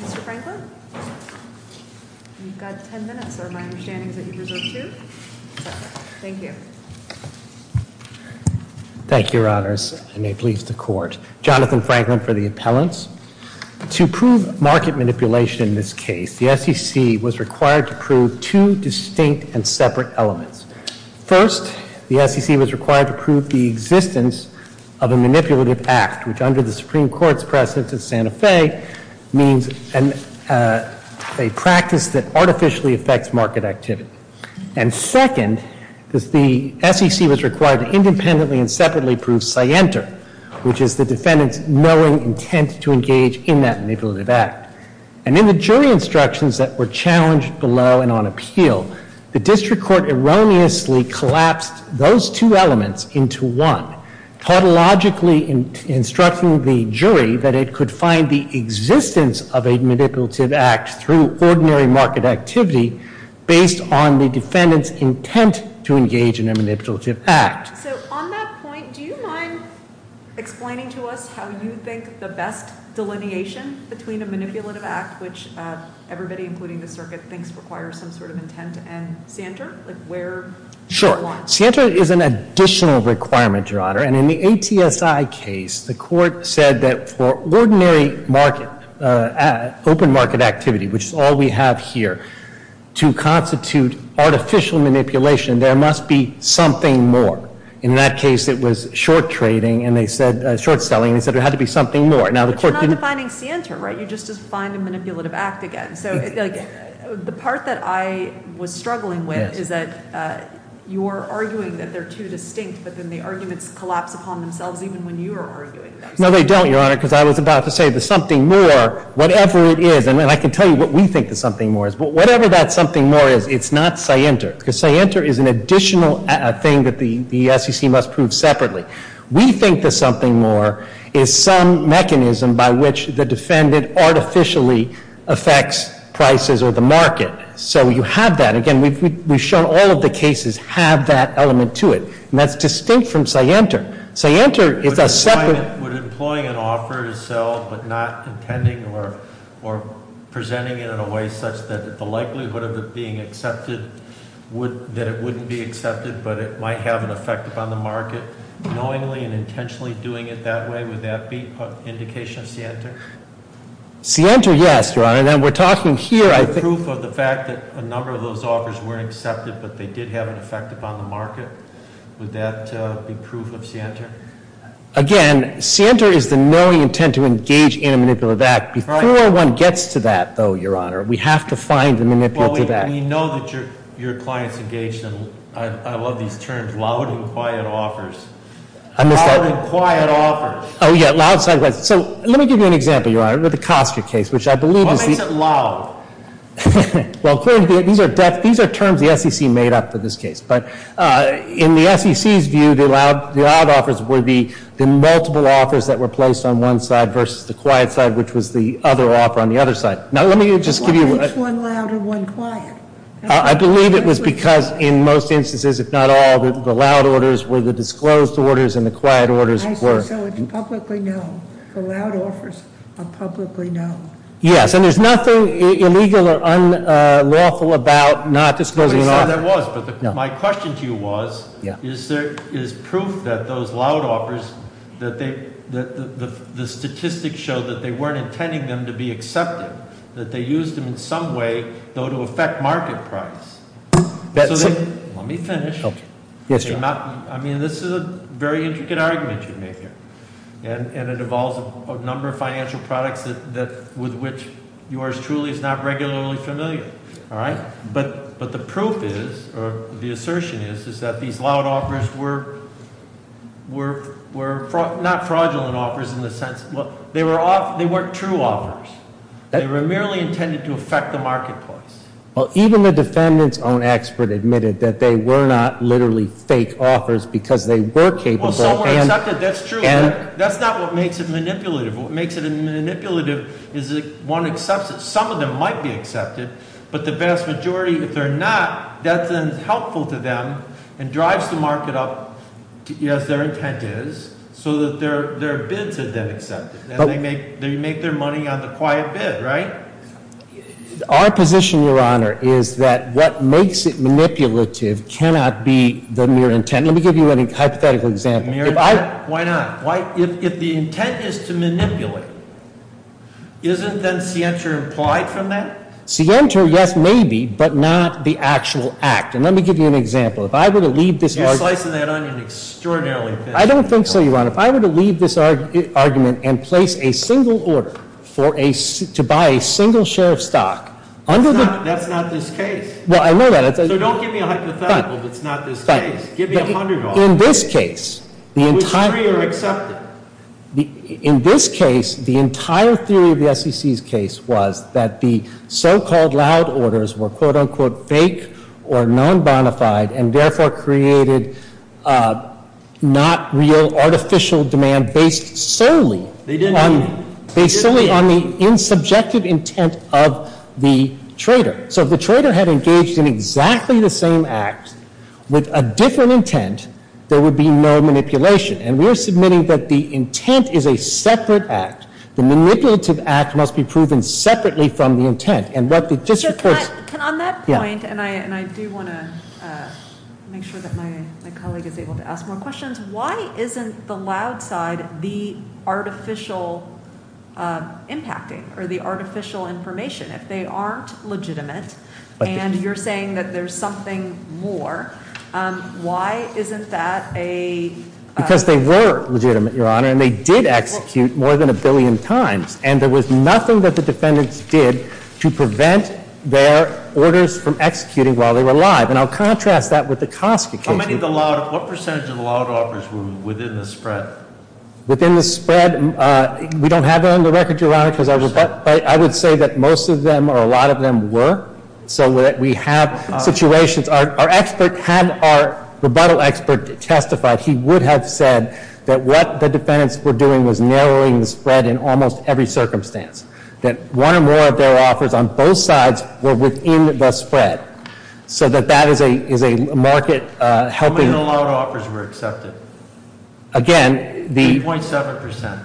Mr. Franklin, you've got ten minutes. Are my understandings that you deserve, too? Thank you. Thank you, Your Honors. I may please the Court. Jonathan Franklin for the Appellants. To prove market manipulation in this case, the SEC was required to prove two distinct and separate elements. First, the SEC was required to prove the existence of a manipulative act, which under the Supreme Court's precedent at Santa Fe means a practice that artificially affects market activity. And second, the SEC was required to independently and separately prove scienter, which is the defendant's knowing intent to engage in that manipulative act. And in the jury instructions that were challenged below and on appeal, the district court erroneously collapsed those two elements into one, tautologically instructing the jury that it could find the existence of a manipulative act through ordinary market activity based on the defendant's intent to engage in a manipulative act. So on that point, do you mind explaining to us how you think the best delineation between a manipulative act, which everybody, including the circuit, thinks requires some sort of intent, and scienter? Sure. Scienter is an additional requirement, Your Honor. And in the ATSI case, the court said that for ordinary market, open market activity, which is all we have here, to constitute artificial manipulation, there must be something more. In that case, it was short trading and they said short selling. They said it had to be something more. But you're not defining scienter, right? You just defined a manipulative act again. So the part that I was struggling with is that you're arguing that they're too distinct, but then the arguments collapse upon themselves even when you are arguing them. No, they don't, Your Honor, because I was about to say the something more, whatever it is. And I can tell you what we think the something more is. But whatever that something more is, it's not scienter. Because scienter is an additional thing that the SEC must prove separately. We think the something more is some mechanism by which the defendant artificially affects prices or the market. So you have that. Again, we've shown all of the cases have that element to it. And that's distinct from scienter. Scienter is a separate- Would employing an offer to sell but not intending or presenting it in a way such that the likelihood of it being accepted, that it wouldn't be accepted but it might have an effect upon the market, knowingly and intentionally doing it that way, would that be an indication of scienter? Scienter, yes, Your Honor. And we're talking here- Proof of the fact that a number of those offers weren't accepted but they did have an effect upon the market, would that be proof of scienter? Again, scienter is the knowing intent to engage in a manipulative act. Before one gets to that, though, Your Honor, we have to find the manipulative act. We know that your client's engaged in, I love these terms, loud and quiet offers. I missed that. Loud and quiet offers. Oh, yeah, loud side offers. So let me give you an example, Your Honor, with the Costa case, which I believe is- What makes it loud? Well, clearly, these are terms the SEC made up for this case. But in the SEC's view, the loud offers would be the multiple offers that were placed on one side versus the quiet side, which was the other offer on the other side. Now, let me just give you- Which one loud or one quiet? I believe it was because in most instances, if not all, the loud orders were the disclosed orders and the quiet orders were- I think so, it's publicly known. The loud offers are publicly known. Yes, and there's nothing illegal or unlawful about not disclosing an offer. I'm not sure that was, but my question to you was, is there proof that those loud offers, that the statistics show that they weren't intending them to be accepted? That they used them in some way, though, to affect market price? Let me finish. Yes, Your Honor. I mean, this is a very intricate argument you've made here, and it involves a number of financial products with which yours truly is not regularly familiar, all right? But the proof is, or the assertion is, is that these loud offers were not fraudulent offers in the sense, they weren't true offers. They were merely intended to affect the marketplace. Well, even the defendant's own expert admitted that they were not literally fake offers because they were capable and- Well, some were accepted, that's true. That's not what makes it manipulative. What makes it manipulative is that one accepts it. Some of them might be accepted, but the vast majority, if they're not, that then is helpful to them and drives the market up as their intent is, so that their bids are then accepted. And they make their money on the quiet bid, right? Our position, Your Honor, is that what makes it manipulative cannot be the mere intent. Let me give you a hypothetical example. Why not? If the intent is to manipulate, isn't then scienter implied from that? Scienter, yes, maybe, but not the actual act. And let me give you an example. If I were to leave this- You're slicing that onion extraordinarily thin. I don't think so, Your Honor. If I were to leave this argument and place a single order to buy a single share of stock under the- That's not this case. Well, I know that. Give me a hundred of them. In this case, the entire- Which three are accepted? In this case, the entire theory of the SEC's case was that the so-called loud orders were quote-unquote fake or non-bonafide and therefore created not real artificial demand based solely- They didn't mean it. Based solely on the insubjective intent of the trader. So if the trader had engaged in exactly the same act with a different intent, there would be no manipulation. And we are submitting that the intent is a separate act. The manipulative act must be proven separately from the intent. And what the- Can I- On that point, and I do want to make sure that my colleague is able to ask more questions, why isn't the loud side the artificial impacting or the artificial information? If they aren't legitimate and you're saying that there's something more, why isn't that a- Because they were legitimate, Your Honor, and they did execute more than a billion times. And there was nothing that the defendants did to prevent their orders from executing while they were live. And I'll contrast that with the Koska case. What percentage of the loud orders were within the spread? Within the spread? We don't have that on the record, Your Honor. I would say that most of them or a lot of them were. So that we have situations. Our expert had our rebuttal expert testify. He would have said that what the defendants were doing was narrowing the spread in almost every circumstance. That one or more of their offers on both sides were within the spread. So that that is a market helping- How many of the loud offers were accepted? Again, the- 8.7%.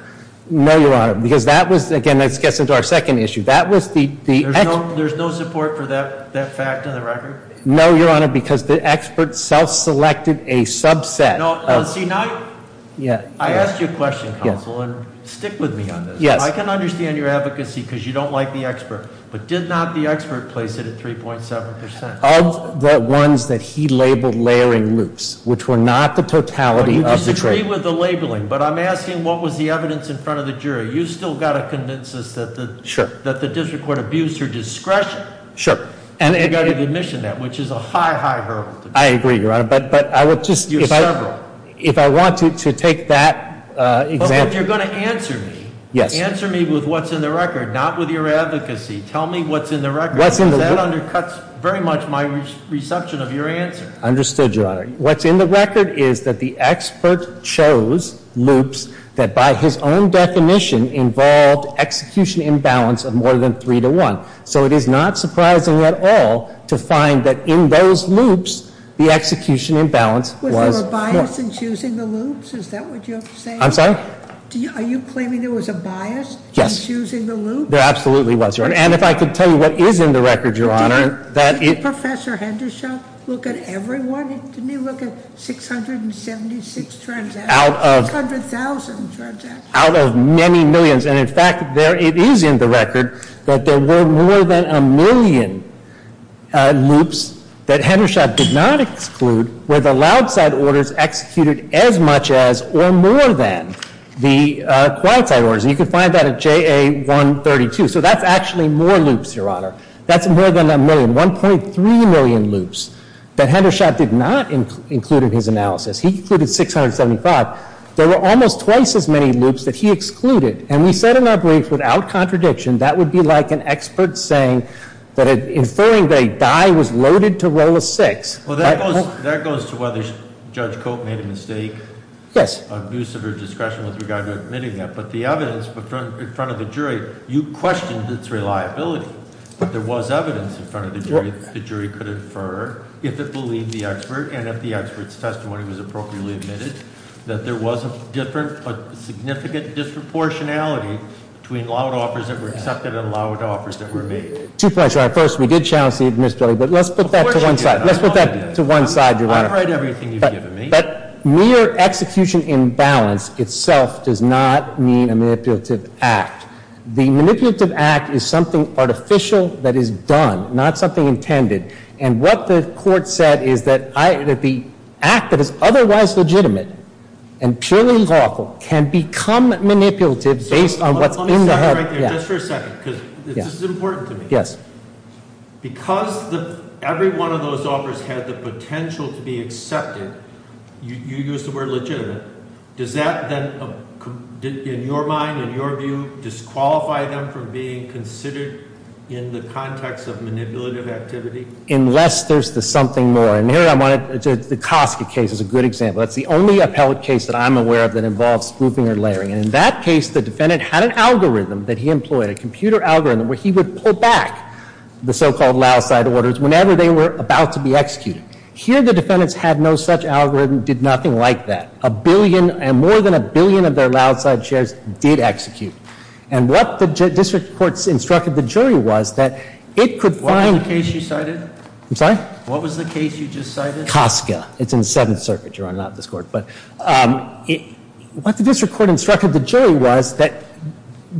No, Your Honor, because that was, again, this gets into our second issue. That was the- There's no support for that fact on the record? No, Your Honor, because the expert self-selected a subset of- No, see, now I asked you a question, counsel, and stick with me on this. I can understand your advocacy because you don't like the expert, but did not the expert place it at 3.7%? Of the ones that he labeled layering loops, which were not the totality of the trade. I agree with the labeling, but I'm asking what was the evidence in front of the jury? You still got to convince us that the- Sure. That the district court abused her discretion. Sure. And you got to admission that, which is a high, high hurdle. I agree, Your Honor, but I would just- You're several. If I want to take that example- But you're going to answer me. Yes. Answer me with what's in the record, not with your advocacy. Tell me what's in the record. What's in the- Because that undercuts very much my reception of your answer. Understood, Your Honor. What's in the record is that the expert chose loops that, by his own definition, involved execution imbalance of more than three to one. So it is not surprising at all to find that in those loops, the execution imbalance was- Was there a bias in choosing the loops? Is that what you're saying? I'm sorry? Are you claiming there was a bias in choosing the loops? Yes. There absolutely was, Your Honor. And if I could tell you what is in the record, Your Honor- Didn't Professor Hendershot look at everyone? Didn't he look at 676 transactions? Out of- 600,000 transactions. Out of many millions. And, in fact, it is in the record that there were more than a million loops that Hendershot did not exclude where the loud side orders executed as much as or more than the quiet side orders. And you can find that at JA 132. So that's actually more loops, Your Honor. That's more than a million, 1.3 million loops that Hendershot did not include in his analysis. He included 675. There were almost twice as many loops that he excluded. And we said in our brief, without contradiction, that would be like an expert saying that inferring that a die was loaded to roll a six. Well, that goes to whether Judge Cope made a mistake- Yes. Abusive or discretion with regard to admitting that. But the evidence in front of the jury, you questioned its reliability. But there was evidence in front of the jury that the jury could infer if it believed the expert, and if the expert's testimony was appropriately admitted, that there was a significant disproportionality between loud offers that were accepted and loud offers that were made. Two points, Your Honor. First, we did challenge the admissibility, but let's put that to one side. Let's put that to one side, Your Honor. I don't write everything you've given me. But mere execution imbalance itself does not mean a manipulative act. The manipulative act is something artificial that is done, not something intended. And what the court said is that the act that is otherwise legitimate and purely lawful can become manipulative based on what's in the- Let me stop you right there, just for a second, because this is important to me. Yes. Because every one of those offers had the potential to be accepted, you used the word legitimate. Does that then, in your mind, in your view, disqualify them from being considered in the context of manipulative activity? Unless there's the something more. And here I want to, the Koska case is a good example. That's the only appellate case that I'm aware of that involves grouping or layering. And in that case, the defendant had an algorithm that he employed, a computer algorithm, where he would pull back the so-called loudside orders whenever they were about to be executed. Here, the defendants had no such algorithm, did nothing like that. A billion and more than a billion of their loudside shares did execute. And what the district court instructed the jury was that it could find- What was the case you cited? I'm sorry? What was the case you just cited? Koska. It's in the Seventh Circuit, Your Honor, not this Court. But what the district court instructed the jury was that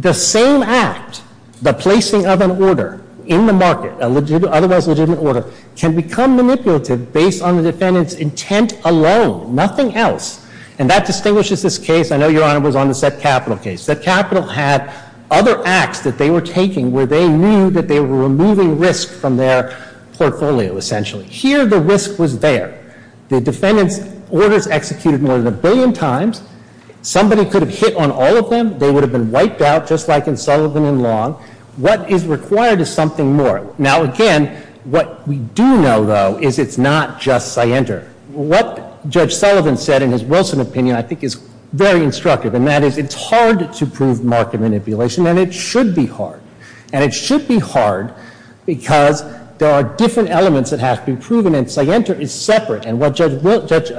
the same act, the placing of an order in the market, otherwise legitimate order, can become manipulative based on the defendant's intent alone, nothing else. And that distinguishes this case. I know Your Honor was on the Set Capital case. Set Capital had other acts that they were taking where they knew that they were removing risk from their portfolio, essentially. Here, the risk was there. The defendant's orders executed more than a billion times. Somebody could have hit on all of them. They would have been wiped out, just like in Sullivan and Long. What is required is something more. Now, again, what we do know, though, is it's not just Sienter. What Judge Sullivan said in his Wilson opinion I think is very instructive, and that is it's hard to prove market manipulation, and it should be hard. And it should be hard because there are different elements that have to be proven, and Sienter is separate. And what Judge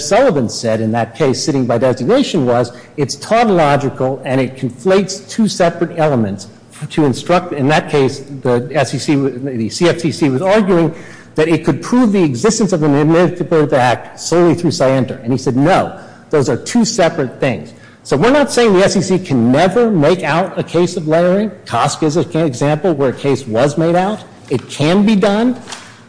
Sullivan said in that case sitting by designation was it's tautological, and it conflates two separate elements to instruct. In that case, the CFTC was arguing that it could prove the existence of a manipulative act solely through Sienter. And he said, no, those are two separate things. So we're not saying the SEC can never make out a case of layering. COSC is an example where a case was made out. It can be done,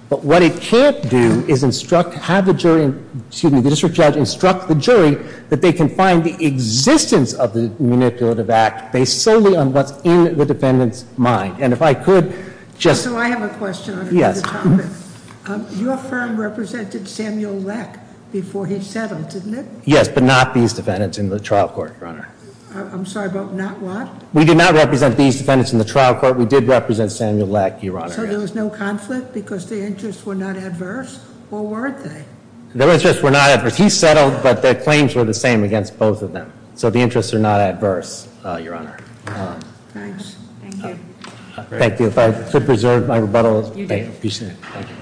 but what it can't do is instruct, have the jury, excuse me, the district judge instruct the jury that they can find the existence of the manipulative act based solely on what's in the defendant's mind. And if I could just- So I have a question on the topic. Yes. Your firm represented Samuel Leck before he settled, didn't it? Yes, but not these defendants in the trial court, Your Honor. I'm sorry, but not what? We did not represent these defendants in the trial court. We did represent Samuel Leck, Your Honor. So there was no conflict because the interests were not adverse, or weren't they? The interests were not adverse. He settled, but the claims were the same against both of them. So the interests are not adverse, Your Honor. Thanks. Thank you. Thank you. If I could preserve my rebuttal. You do. Thank you. You got it. Thank you.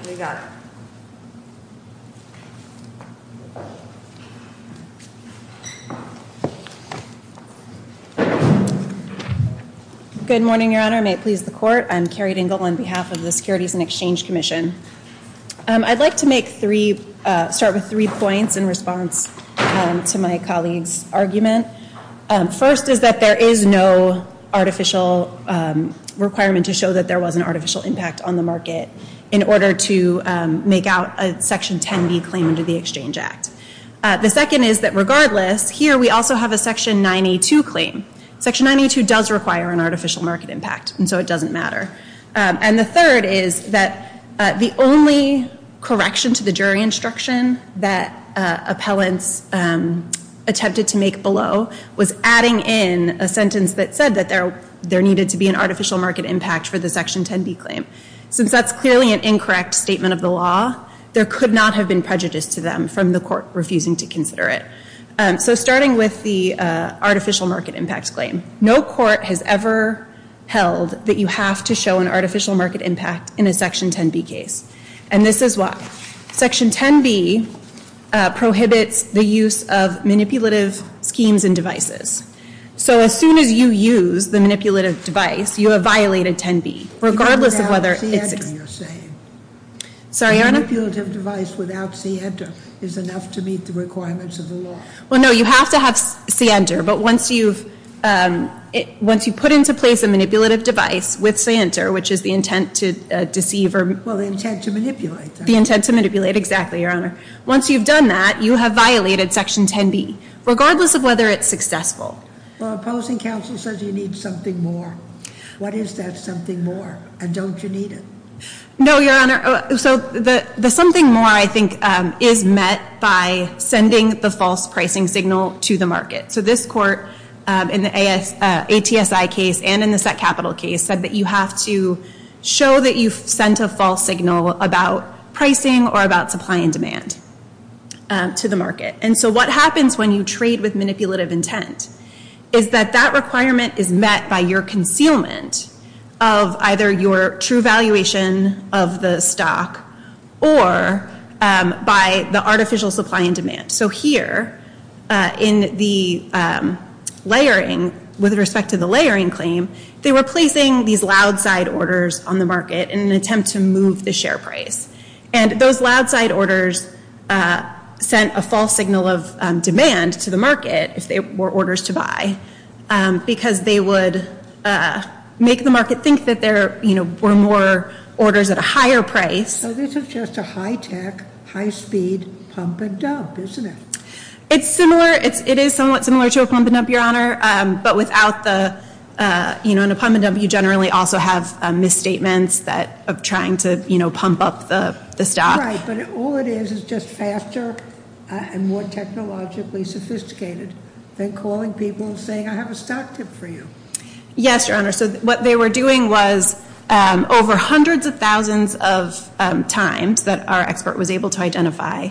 Good morning, Your Honor. May it please the court. I'm Carrie Dingell on behalf of the Securities and Exchange Commission. I'd like to start with three points in response to my colleague's argument. First is that there is no artificial requirement to show that there was an artificial impact on the market in order to make out a Section 10B claim under the Exchange Act. The second is that regardless, here we also have a Section 982 claim. Section 982 does require an artificial market impact, and so it doesn't matter. And the third is that the only correction to the jury instruction that appellants attempted to make below was adding in a sentence that said that there needed to be an artificial market impact for the Section 10B claim. Since that's clearly an incorrect statement of the law, there could not have been prejudice to them from the court refusing to consider it. So starting with the artificial market impact claim, no court has ever held that you have to show an artificial market impact in a Section 10B case. And this is why. Section 10B prohibits the use of manipulative schemes and devices. So as soon as you use the manipulative device, you have violated 10B. Regardless of whether it's- You're saying. Sorry, Your Honor. A manipulative device without scienter is enough to meet the requirements of the law. Well, no. You have to have scienter. But once you've put into place a manipulative device with scienter, which is the intent to deceive or- Well, the intent to manipulate. The intent to manipulate. Exactly, Your Honor. Once you've done that, you have violated Section 10B, regardless of whether it's successful. Well, opposing counsel says you need something more. What is that something more? And don't you need it? No, Your Honor. So the something more, I think, is met by sending the false pricing signal to the market. So this court, in the ATSI case and in the set capital case, said that you have to show that you've sent a false signal about pricing or about supply and demand to the market. And so what happens when you trade with manipulative intent is that that requirement is met by your concealment of either your true valuation of the stock or by the artificial supply and demand. So here, in the layering, with respect to the layering claim, they were placing these loud side orders on the market in an attempt to move the share price. And those loud side orders sent a false signal of demand to the market, if there were orders to buy, because they would make the market think that there were more orders at a higher price. So this is just a high-tech, high-speed pump and dump, isn't it? It's similar. It is somewhat similar to a pump and dump, Your Honor. In a pump and dump, you generally also have misstatements of trying to pump up the stock. Right, but all it is is just faster and more technologically sophisticated than calling people and saying, I have a stock tip for you. Yes, Your Honor. So what they were doing was, over hundreds of thousands of times that our expert was able to identify,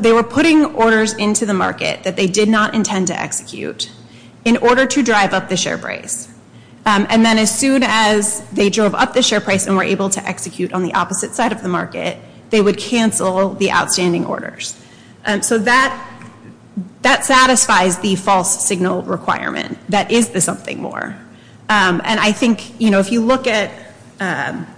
they were putting orders into the market that they did not intend to execute in order to drive up the share price. And then as soon as they drove up the share price and were able to execute on the opposite side of the market, they would cancel the outstanding orders. So that satisfies the false signal requirement. That is the something more. And I think, you know, if you look at the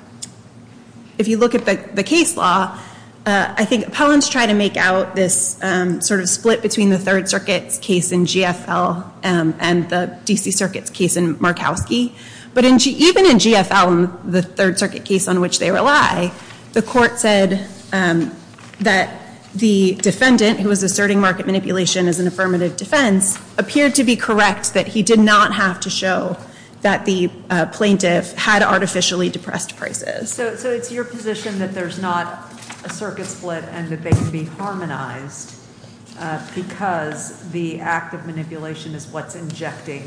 case law, I think appellants try to make out this sort of split between the Third Circuit's case in GFL and the D.C. Circuit's case in Markowski. But even in GFL, the Third Circuit case on which they rely, the court said that the defendant, who was asserting market manipulation as an affirmative defense, appeared to be correct that he did not have to show that the plaintiff had artificially depressed prices. So it's your position that there's not a circuit split and that they can be harmonized because the act of manipulation is what's injecting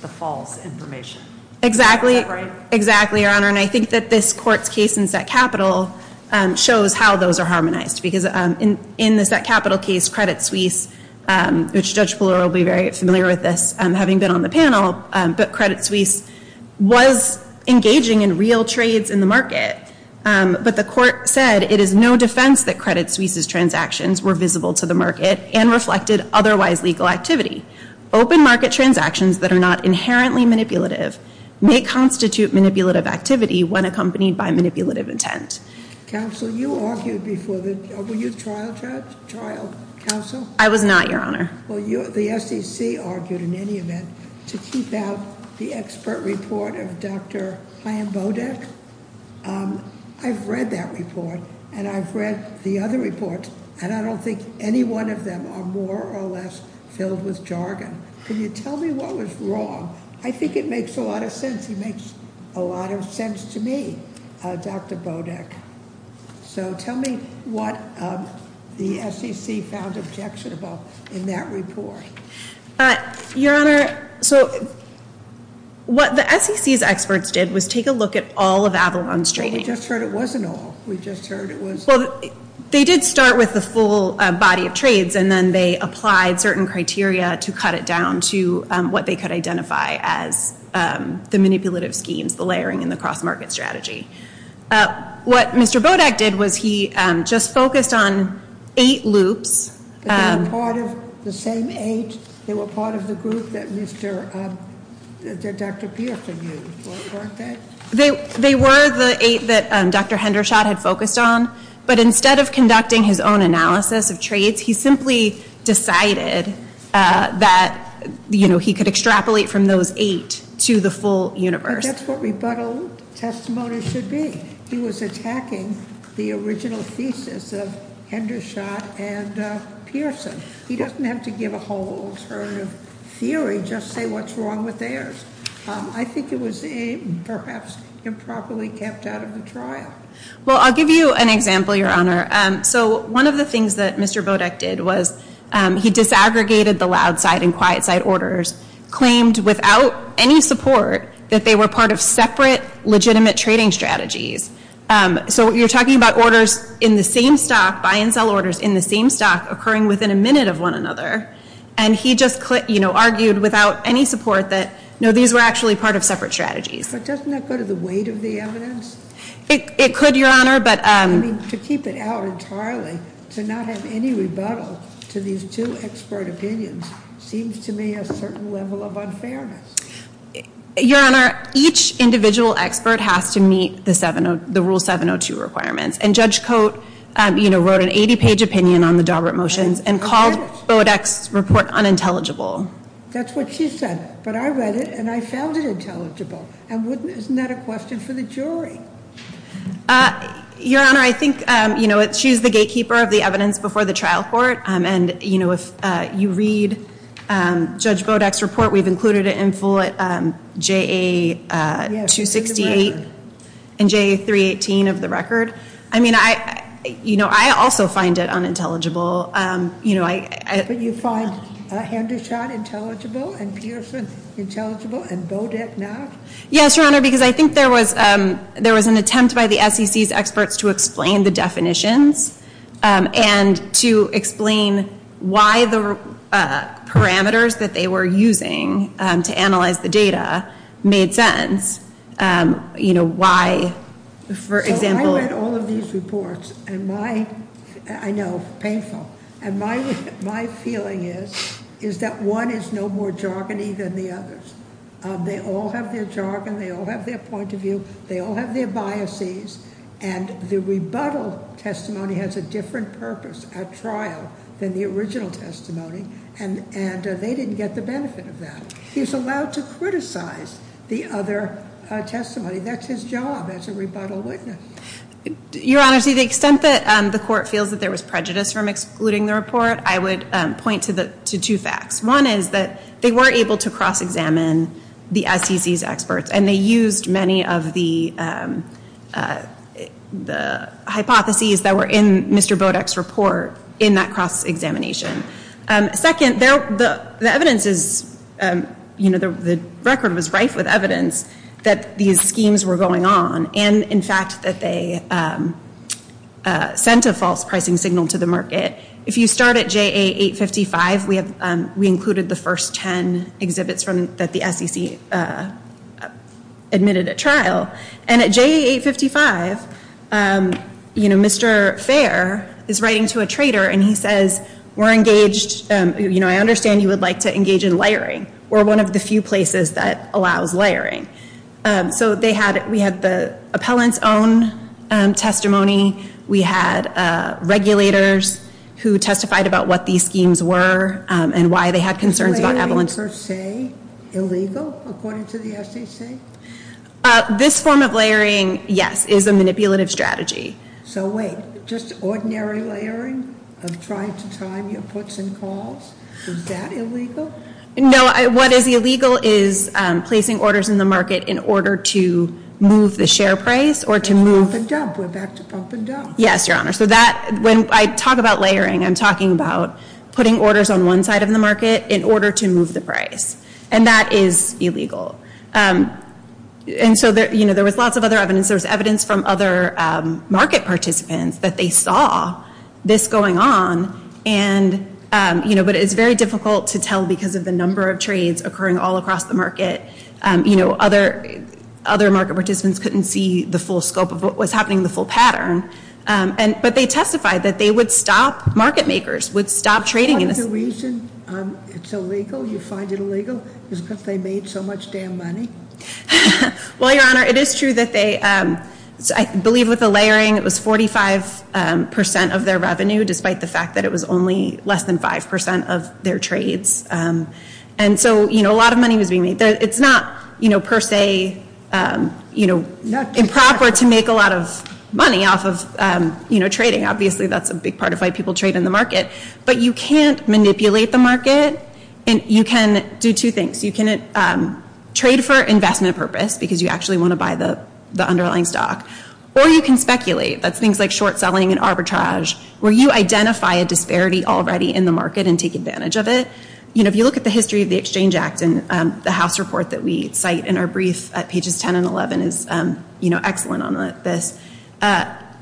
the false information. Exactly. Exactly, Your Honor. And I think that this court's case in set capital shows how those are harmonized. Because in the set capital case, Credit Suisse, which Judge Ballard will be very familiar with this, having been on the panel, but Credit Suisse was engaging in real trades in the market. But the court said it is no defense that Credit Suisse's transactions were visible to the market and reflected otherwise legal activity. Open market transactions that are not inherently manipulative may constitute manipulative activity when accompanied by manipulative intent. Counsel, you argued before the, were you a trial judge, trial counsel? I was not, Your Honor. Well, the SEC argued in any event to keep out the expert report of Dr. Ian Bodek. I've read that report, and I've read the other reports, and I don't think any one of them are more or less filled with jargon. Can you tell me what was wrong? I think it makes a lot of sense. It makes a lot of sense to me, Dr. Bodek. So tell me what the SEC found objectionable in that report. Your Honor, so what the SEC's experts did was take a look at all of Avalon's trading. Well, we just heard it wasn't all. We just heard it was- Well, they did start with the full body of trades, and then they applied certain criteria to cut it down to what they could identify as the manipulative schemes, the layering, and the cross-market strategy. What Mr. Bodek did was he just focused on eight loops. They were part of the same eight? They were part of the group that Dr. Pierson used, weren't they? They were the eight that Dr. Hendershot had focused on, but instead of conducting his own analysis of trades, he simply decided that he could extrapolate from those eight to the full universe. But that's what rebuttal testimony should be. He was attacking the original thesis of Hendershot and Pierson. He doesn't have to give a whole alternative theory, just say what's wrong with theirs. I think it was perhaps improperly kept out of the trial. Well, I'll give you an example, Your Honor. So one of the things that Mr. Bodek did was he disaggregated the loud side and quiet side orders, claimed without any support that they were part of separate legitimate trading strategies. So you're talking about orders in the same stock, buy and sell orders in the same stock, occurring within a minute of one another. And he just argued without any support that these were actually part of separate strategies. But doesn't that go to the weight of the evidence? It could, Your Honor, but- I mean, to keep it out entirely, to not have any rebuttal to these two expert opinions, seems to me a certain level of unfairness. Your Honor, each individual expert has to meet the Rule 702 requirements. And Judge Cote wrote an 80-page opinion on the Daubert motions and called Bodek's report unintelligible. That's what she said, but I read it and I found it intelligible. Isn't that a question for the jury? Your Honor, I think she's the gatekeeper of the evidence before the trial court. And, you know, if you read Judge Bodek's report, we've included it in full at JA-268 and JA-318 of the record. I mean, you know, I also find it unintelligible. But you find Hendershot intelligible and Pearson intelligible and Bodek not? Yes, Your Honor, because I think there was an attempt by the SEC's experts to explain the definitions and to explain why the parameters that they were using to analyze the data made sense, you know, why, for example- So I read all of these reports, and my, I know, painful. And my feeling is, is that one is no more jargony than the others. They all have their jargon, they all have their point of view, they all have their biases. And the rebuttal testimony has a different purpose at trial than the original testimony. And they didn't get the benefit of that. He's allowed to criticize the other testimony. That's his job as a rebuttal witness. Your Honor, to the extent that the court feels that there was prejudice from excluding the report, I would point to two facts. One is that they were able to cross-examine the SEC's experts. And they used many of the hypotheses that were in Mr. Bodek's report in that cross-examination. Second, the evidence is, you know, the record was rife with evidence that these schemes were going on. And, in fact, that they sent a false pricing signal to the market. If you start at JA 855, we included the first ten exhibits that the SEC admitted at trial. And at JA 855, you know, Mr. Fair is writing to a trader and he says, we're engaged, you know, I understand you would like to engage in layering. We're one of the few places that allows layering. So they had, we had the appellant's own testimony. We had regulators who testified about what these schemes were and why they had concerns about evidence. Is layering per se illegal according to the SEC? This form of layering, yes, is a manipulative strategy. So wait, just ordinary layering of trying to time your puts and calls? Is that illegal? No, what is illegal is placing orders in the market in order to move the share price or to move. Pump and dump, we're back to pump and dump. Yes, Your Honor. So that, when I talk about layering, I'm talking about putting orders on one side of the market in order to move the price. And that is illegal. And so, you know, there was lots of other evidence. There was evidence from other market participants that they saw this going on. And, you know, but it's very difficult to tell because of the number of trades occurring all across the market. You know, other market participants couldn't see the full scope of what was happening, the full pattern. But they testified that they would stop, market makers would stop trading. Is there a reason it's illegal, you find it illegal? Is it because they made so much damn money? Well, Your Honor, it is true that they, I believe with the layering, it was 45% of their revenue despite the fact that it was only less than 5% of their trades. And so, you know, a lot of money was being made. It's not, you know, per se, you know, improper to make a lot of money off of, you know, trading. Obviously, that's a big part of why people trade in the market. But you can't manipulate the market. And you can do two things. You can trade for investment purpose because you actually want to buy the underlying stock. Or you can speculate. That's things like short selling and arbitrage where you identify a disparity already in the market and take advantage of it. You know, if you look at the history of the Exchange Act and the House report that we cite in our brief at pages 10 and 11 is, you know, excellent on this.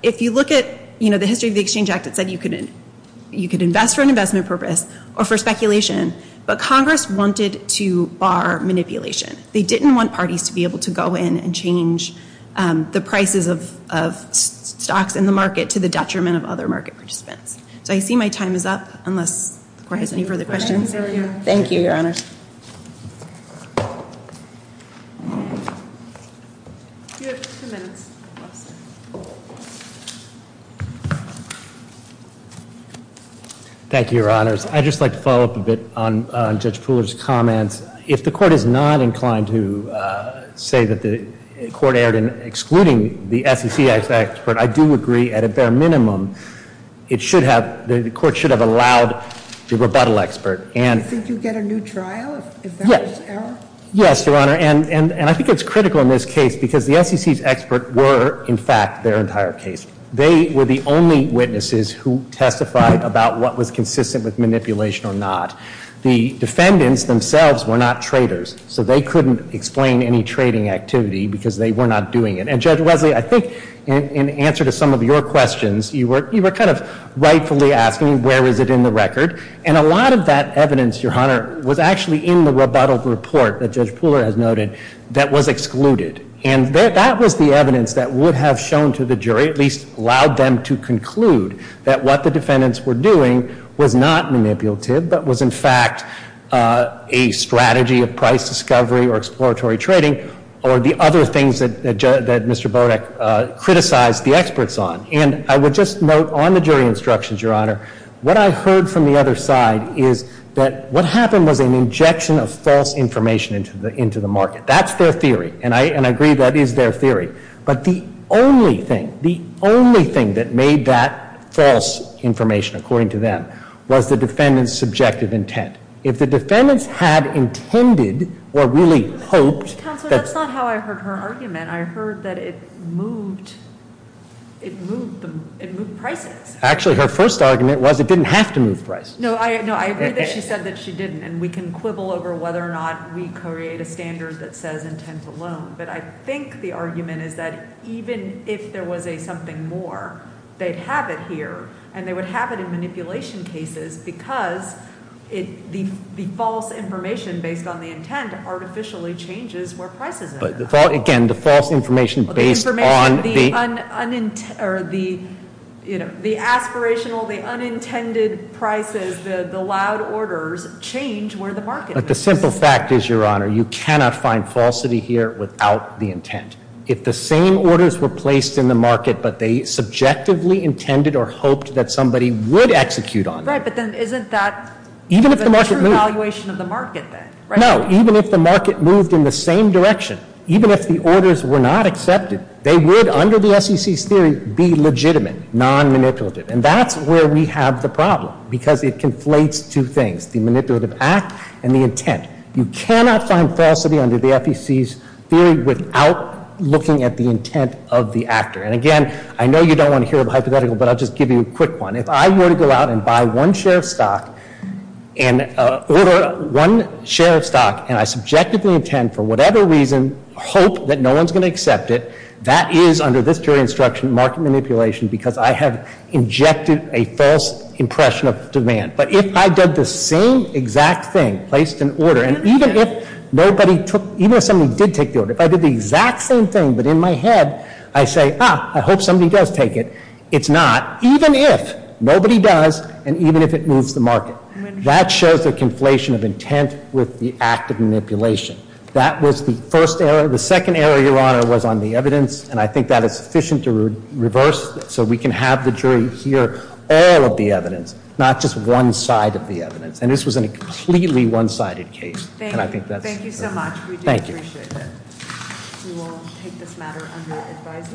If you look at, you know, the history of the Exchange Act, it said you could invest for an investment purpose or for speculation. But Congress wanted to bar manipulation. They didn't want parties to be able to go in and change the prices of stocks in the market to the detriment of other market participants. So I see my time is up unless the Court has any further questions. Thank you, Your Honors. Thank you, Your Honors. I'd just like to follow up a bit on Judge Pooler's comments. If the Court is not inclined to say that the Court erred in excluding the SEC expert, I do agree at a bare minimum it should have, the Court should have allowed the rebuttal expert. Do you think you'd get a new trial if that was error? Yes, Your Honor. And I think it's critical in this case because the SEC's expert were, in fact, their entire case. They were the only witnesses who testified about what was consistent with manipulation or not. The defendants themselves were not traders. So they couldn't explain any trading activity because they were not doing it. And Judge Wesley, I think in answer to some of your questions, you were kind of rightfully asking where is it in the record. And a lot of that evidence, Your Honor, was actually in the rebuttal report that Judge Pooler has noted that was excluded. And that was the evidence that would have shown to the jury, at least allowed them to conclude, that what the defendants were doing was not manipulative but was, in fact, a strategy of price discovery or exploratory trading or the other things that Mr. Bodek criticized the experts on. And I would just note on the jury instructions, Your Honor, what I heard from the other side is that what happened was an injection of false information into the market. That's their theory. And I agree that is their theory. But the only thing, the only thing that made that false information, according to them, was the defendants' subjective intent. If the defendants had intended or really hoped that Counselor, that's not how I heard her argument. I heard that it moved, it moved prices. Actually, her first argument was it didn't have to move prices. No, I agree that she said that she didn't. And we can quibble over whether or not we create a standard that says intent alone. But I think the argument is that even if there was a something more, they'd have it here, and they would have it in manipulation cases because the false information based on the intent artificially changes where prices are. But again, the false information based on the aspirational, the unintended prices, the loud orders, change where the market is. But the simple fact is, Your Honor, you cannot find falsity here without the intent. If the same orders were placed in the market, but they subjectively intended or hoped that somebody would execute on them. Right, but then isn't that the true valuation of the market, then? No, even if the market moved in the same direction, even if the orders were not accepted, they would, under the FEC's theory, be legitimate, non-manipulative. And that's where we have the problem because it conflates two things, the manipulative act and the intent. You cannot find falsity under the FEC's theory without looking at the intent of the actor. And again, I know you don't want to hear a hypothetical, but I'll just give you a quick one. If I were to go out and buy one share of stock and order one share of stock, and I subjectively intend, for whatever reason, hope that no one's going to accept it, that is, under this jury instruction, market manipulation because I have injected a false impression of demand. But if I did the same exact thing, placed an order, and even if nobody took, even if somebody did take the order, if I did the exact same thing, but in my head I say, ah, I hope somebody does take it, it's not, even if nobody does and even if it moves the market. That shows a conflation of intent with the act of manipulation. That was the first error. The second error, Your Honor, was on the evidence, and I think that is sufficient to reverse so we can have the jury hear all of the evidence, not just one side of the evidence. And this was a completely one-sided case. Thank you. Thank you so much. We do appreciate it. Thank you. We will take this matter under advisory.